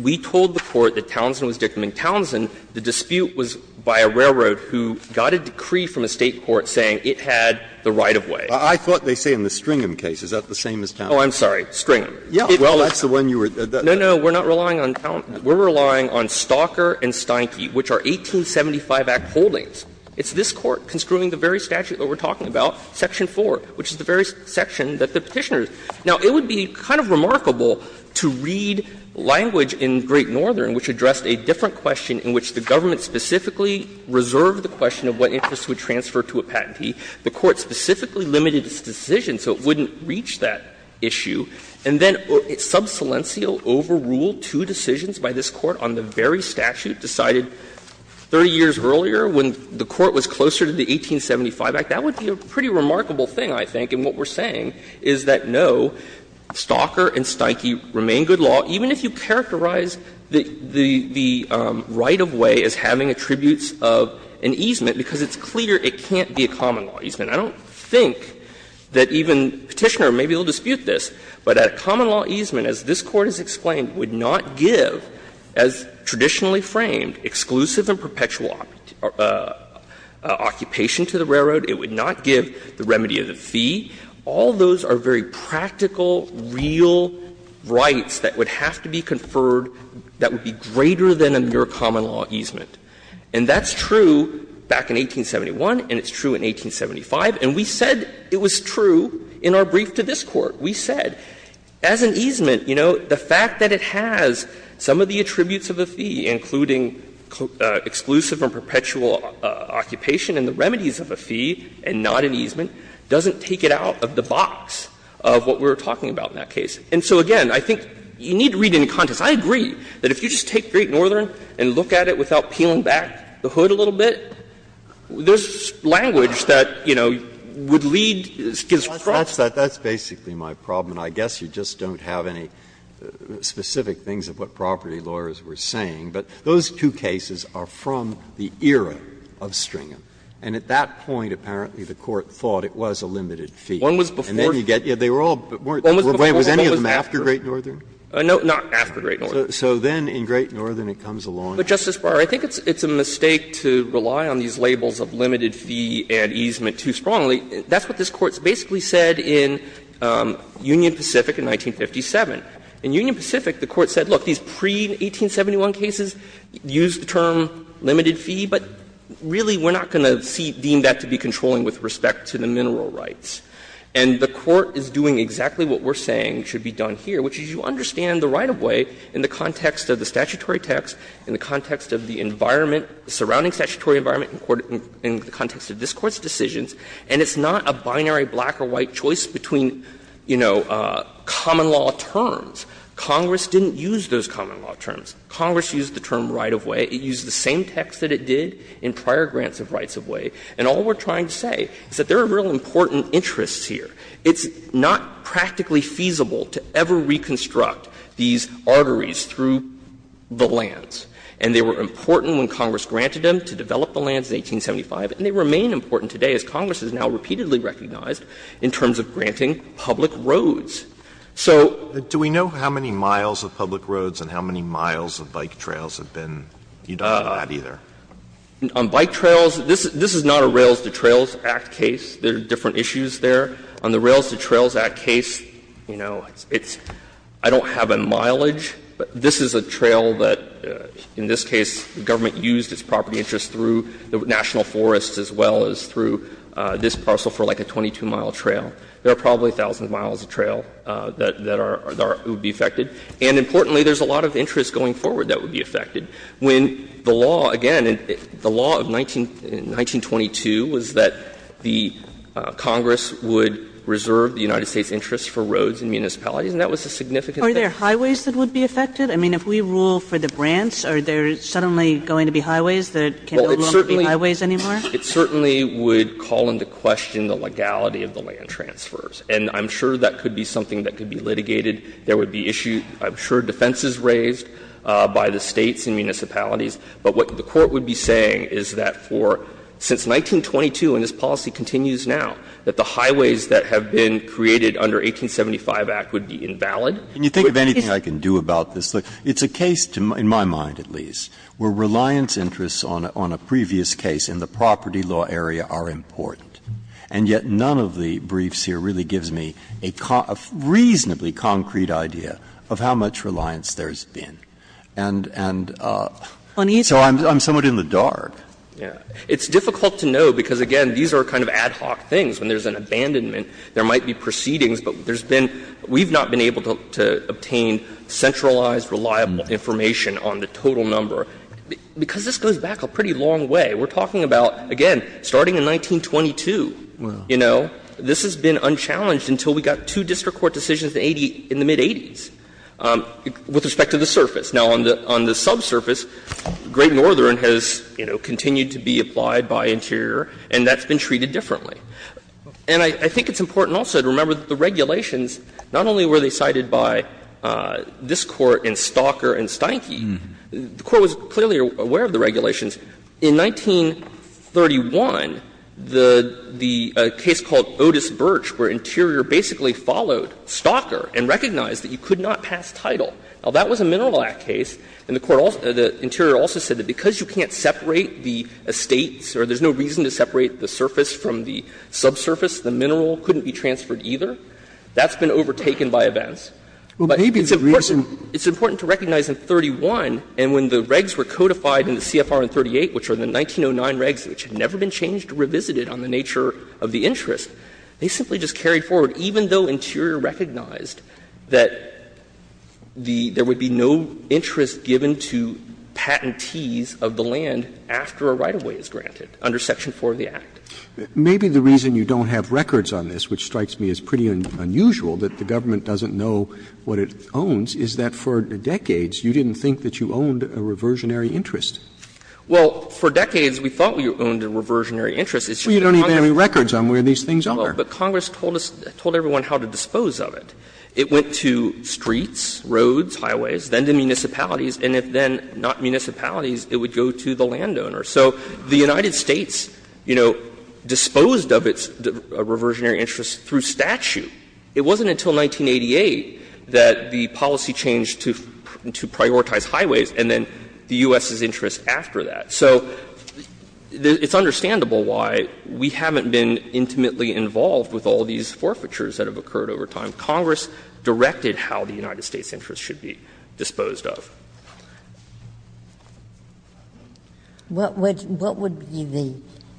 We told the Court that Townsend was dictum, and Townsend, the dispute was by a railroad who got a decree from a State court saying it had the right-of-way. Breyer. I thought they say in the Stringham case, is that the same as Townsend? Oh, I'm sorry, Stringham. Well, that's the one you were — No, no, we're not relying on — we're relying on Stalker and Steinke, which are 1875 Act holdings. It's this Court construing the very statute that we're talking about, section 4, which is the very section that the Petitioner is. Now, it would be kind of remarkable to read language in Great Northern which addressed a different question in which the government specifically reserved the question of what interest would transfer to a patentee. The Court specifically limited its decision, so it wouldn't reach that issue. And then sub silencio overruled two decisions by this Court on the very statute decided 30 years earlier when the Court was closer to the 1875 Act. That would be a pretty remarkable thing, I think, and what we're saying is that, no, Stalker and Steinke remain good law. Even if you characterize the right-of-way as having attributes of an easement, because it's clear it can't be a common-law easement. I don't think that even Petitioner may be able to dispute this, but a common-law easement, as this Court has explained, would not give, as traditionally framed, exclusive and perpetual occupation to the railroad. It would not give the remedy of the fee. All those are very practical, real rights that would have to be conferred that would be greater than a mere common-law easement. And that's true back in 1871, and it's true in 1875, and we said it was true in our brief to this Court. We said, as an easement, you know, the fact that it has some of the attributes of a fee, including exclusive and perpetual occupation and the remedies of a fee and not an easement, doesn't take it out of the box of what we were talking about in that case. And so, again, I think you need to read it in context. I agree that if you just take Great Northern and look at it without peeling back the hood a little bit, there's language that, you know, would lead to this. Breyer, that's basically my problem, and I guess you just don't have any specific things of what property lawyers were saying, but those two cases are from the era of Stringham. And at that point, apparently, the Court thought it was a limited fee. And then you get, they were all, wait, was any of them after Great Northern? No, not after Great Northern. So then in Great Northern, it comes along. But, Justice Breyer, I think it's a mistake to rely on these labels of limited fee and easement too strongly. That's what this Court basically said in Union Pacific in 1957. In Union Pacific, the Court said, look, these pre-1871 cases use the term limited fee, but really we're not going to deem that to be controlling with respect to the mineral rights. And the Court is doing exactly what we're saying should be done here, which is you understand the right-of-way in the context of the statutory text, in the context of the environment, the surrounding statutory environment in the context of this Court's decisions, and it's not a binary black or white choice between, you know, common law terms. Congress didn't use those common law terms. Congress used the term right-of-way. It used the same text that it did in prior grants of rights-of-way. And all we're trying to say is that there are real important interests here. It's not practically feasible to ever reconstruct these arteries through the lands. And they were important when Congress granted them to develop the lands in 1875, and they remain important today as Congress has now repeatedly recognized in terms of granting public roads. So do we know how many miles of public roads and how many miles of bike trails have been, you don't know that either? On bike trails, this is not a Rails-to-Trails Act case. There are different issues there. On the Rails-to-Trails Act case, you know, it's — I don't have a mileage, but this is a trail that, in this case, the government used its property interests through the national forests as well as through this parcel for like a 22-mile trail. There are probably thousands of miles of trail that are — that would be affected. And importantly, there's a lot of interests going forward that would be affected. When the law, again, the law of 1922 was that the Congress would reserve the United States' interests for roads and municipalities, and that was a significant thing. Kagan. Are there highways that would be affected? I mean, if we rule for the Brants, are there suddenly going to be highways that can't be ruled to be highways anymore? It certainly would call into question the legality of the land transfers. And I'm sure that could be something that could be litigated. There would be issues, I'm sure, defenses raised by the States and municipalities. But what the Court would be saying is that for — since 1922, and this policy continues now, that the highways that have been created under 1875 Act would be invalid. Breyer. Can you think of anything I can do about this? It's a case, in my mind at least, where reliance interests on a previous case in the property law area are important. And yet none of the briefs here really gives me a reasonably concrete idea of how much reliance there's been. And so I'm somewhat in the dark. Yeah. It's difficult to know, because again, these are kind of ad hoc things. When there's an abandonment, there might be proceedings, but there's been — we've not been able to obtain centralized, reliable information on the total number, because this goes back a pretty long way. We're talking about, again, starting in 1922. You know, this has been unchallenged until we got two district court decisions in the mid-'80s with respect to the surface. Now, on the subsurface, Great Northern has, you know, continued to be applied by Interior, and that's been treated differently. And I think it's important also to remember that the regulations, not only were they cited by this Court and Stalker and Steinke, the Court was clearly aware of the regulations. In 1931, the case called Otis Birch, where Interior basically followed Stalker and recognized that you could not pass title. Now, that was a Mineral Act case, and the Interior also said that because you can't separate the estates or there's no reason to separate the surface from the subsurface, the mineral couldn't be transferred either. That's been overtaken by events. But it's important to recognize in 31, and when the regs were codified in the CFR 138, which are the 1909 regs, which had never been changed or revisited on the nature of the interest, they simply just carried forward, even though Interior recognized that there would be no interest given to patentees of the land after a right-of-way is granted under Section 4 of the Act. Roberts. Maybe the reason you don't have records on this, which strikes me as pretty unusual, that the government doesn't know what it owns, is that for decades you didn't think that you owned a reversionary interest. Well, for decades we thought we owned a reversionary interest. It's just Congress. Well, you don't even have any records on where these things are. Well, but Congress told us, told everyone how to dispose of it. It went to streets, roads, highways, then to municipalities, and if then not municipalities, it would go to the landowner. So the United States, you know, disposed of its reversionary interest through statute. It wasn't until 1988 that the policy changed to prioritize highways and then the U.S.'s interest after that. So it's understandable why we haven't been intimately involved with all these forfeitures that have occurred over time. Congress directed how the United States' interest should be disposed of. Ginsburg. What would be the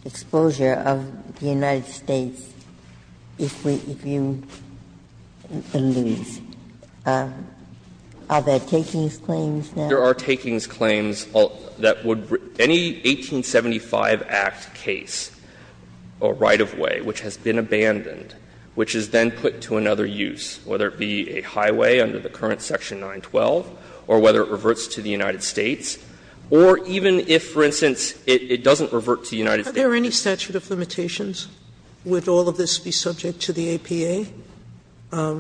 exposure of the United States if you lose? Are there takings claims now? There are takings claims that would any 1875 Act case, a right-of-way which has been abandoned, which is then put to another use, whether it be a highway under the current section 912, or whether it reverts to the United States, or even if, for instance, it doesn't revert to the United States. Are there any statute of limitations? Would all of this be subject to the APA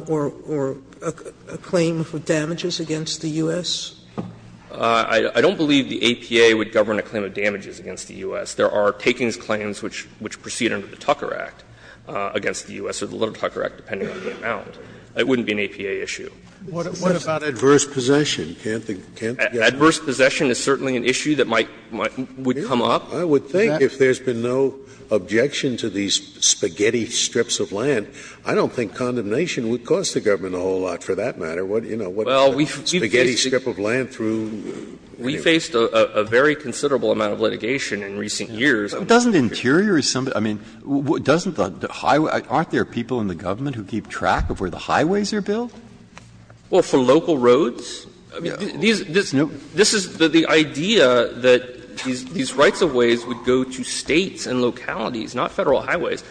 or a claim for damages against the U.S.? I don't believe the APA would govern a claim of damages against the U.S. There are takings claims which proceed under the Tucker Act against the U.S., or the Little Tucker Act, depending on the amount. It wouldn't be an APA issue. Scalia. What about adverse possession? Can't the guest say that? Adverse possession is certainly an issue that might come up. I would think if there's been no objection to these spaghetti strips of land, I don't think condemnation would cost the government a whole lot for that matter. What, you know, what spaghetti strip of land through? We faced a very considerable amount of litigation in recent years. Doesn't Interior or somebody else, I mean, doesn't the highway, aren't there people in the government who keep track of where the highways are built? Well, for local roads? I mean, this is the idea that these rights-of-ways would go to States and localities, not Federal highways.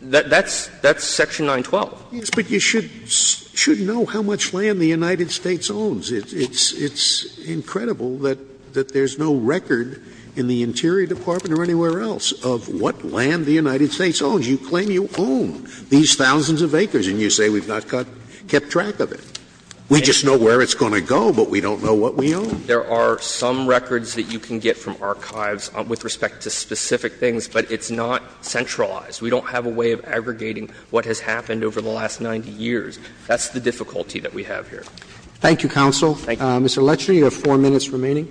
That's section 912. But you should know how much land the United States owns. It's incredible that there's no record in the Interior Department or anywhere else of what land the United States owns. You claim you own these thousands of acres, and you say we've not kept track of it. We just know where it's going to go, but we don't know what we own. There are some records that you can get from archives with respect to specific things, but it's not centralized. We don't have a way of aggregating what has happened over the last 90 years. That's the difficulty that we have here. Roberts. Thank you, counsel. Mr. Lechner, you have 4 minutes remaining.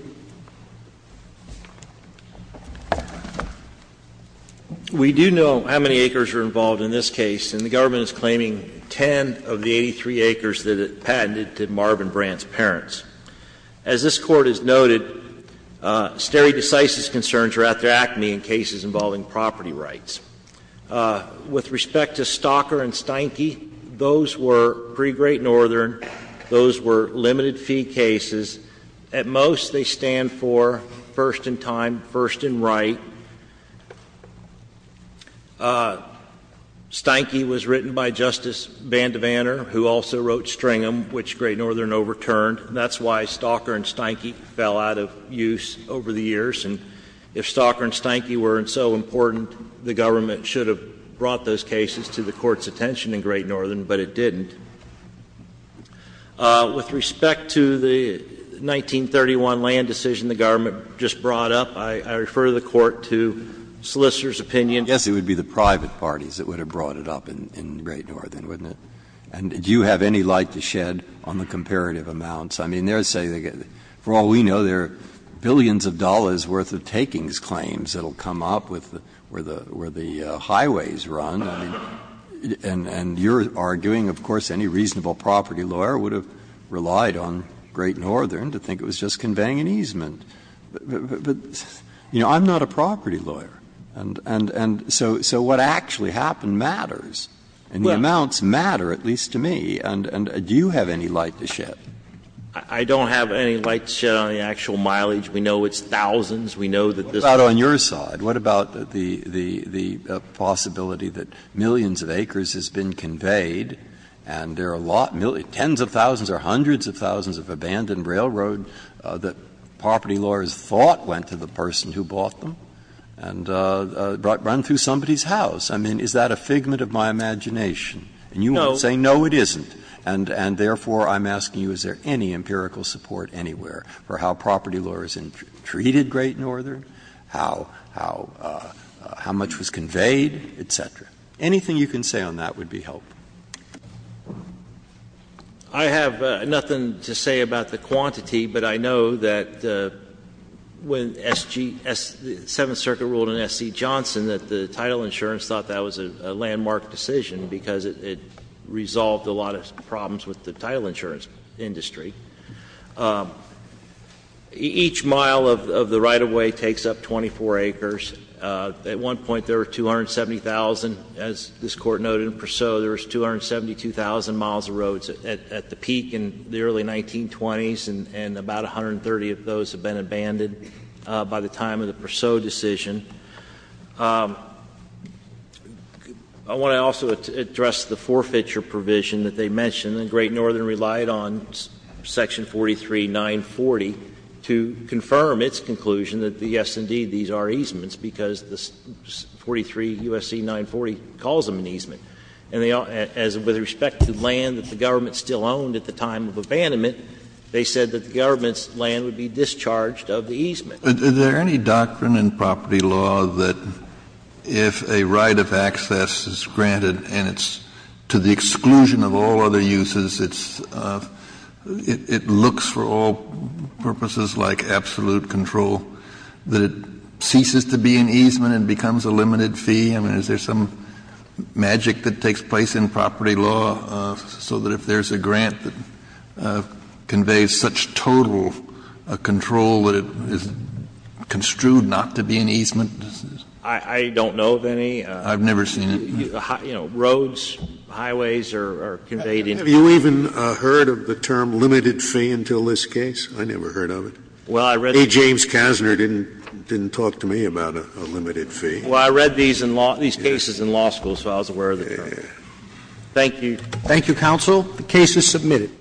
We do know how many acres are involved in this case, and the government is claiming 10 of the 83 acres that it patented to Marvin Brandt's parents. As this Court has noted, stare decisis concerns are at their acne in cases involving property rights. With respect to Stalker and Steinke, those were pre-Great Northern. Those were limited fee cases. At most, they stand for first in time, first in right. Steinke was written by Justice Vander Vanner, who also wrote Stringham, which Great Northern overturned. That's why Stalker and Steinke fell out of use over the years, and if Stalker and Steinke fell out of use, the government should have brought those cases to the Court's attention in Great Northern, but it didn't. With respect to the 1931 land decision the government just brought up, I refer to the Court to solicitor's opinion. Yes, it would be the private parties that would have brought it up in Great Northern, wouldn't it? And do you have any light to shed on the comparative amounts? I mean, they're saying, for all we know, there are billions of dollars' worth of takings claims that will come up with where the highways run, and you're arguing, of course, any reasonable property lawyer would have relied on Great Northern to think it was just conveying an easement. But, you know, I'm not a property lawyer, and so what actually happened matters, and the amounts matter, at least to me. And do you have any light to shed? I don't have any light to shed on the actual mileage. We know it's thousands. We know that this is a big issue. Breyer. What about on your side? What about the possibility that millions of acres has been conveyed, and there are a lot, tens of thousands or hundreds of thousands of abandoned railroad that property lawyers thought went to the person who bought them, and run through somebody's house? I mean, is that a figment of my imagination? And you won't say no, it isn't, and therefore, I'm asking you, is there any empirical support anywhere for how property lawyers treated Great Northern, how much was conveyed, et cetera? Anything you can say on that would be helpful. I have nothing to say about the quantity, but I know that when S.G. the Seventh Circuit ruled in S.C. Johnson that the title insurance thought that was a landmark decision because it resolved a lot of problems with the title insurance industry. Each mile of the right-of-way takes up 24 acres. At one point, there were 270,000, as this Court noted in Perceau, there was 272,000 miles of roads at the peak in the early 1920s, and about 130 of those have been abandoned by the time of the Perceau decision. I want to also address the forfeiture provision that they mentioned. And Great Northern relied on section 43940 to confirm its conclusion that, yes, indeed, these are easements, because 43 U.S.C. 940 calls them an easement. And they all — as with respect to land that the government still owned at the time of abandonment, they said that the government's land would be discharged of the easement. Kennedy, is there any doctrine in property law that if a right of access is granted and it's to the exclusion of all other uses, it's — it looks for all purposes like absolute control, that it ceases to be an easement and becomes a limited fee? I mean, is there some magic that takes place in property law so that if there's a grant that conveys such total control, that it is construed not to be an easement? I don't know of any. I've never seen it. You know, roads, highways are conveyed in— Have you even heard of the term limited fee until this case? I never heard of it. Well, I read— A. James Kasner didn't talk to me about a limited fee. Well, I read these in law — these cases in law school, so I was aware of the term. Thank you. Thank you, counsel. The case is submitted.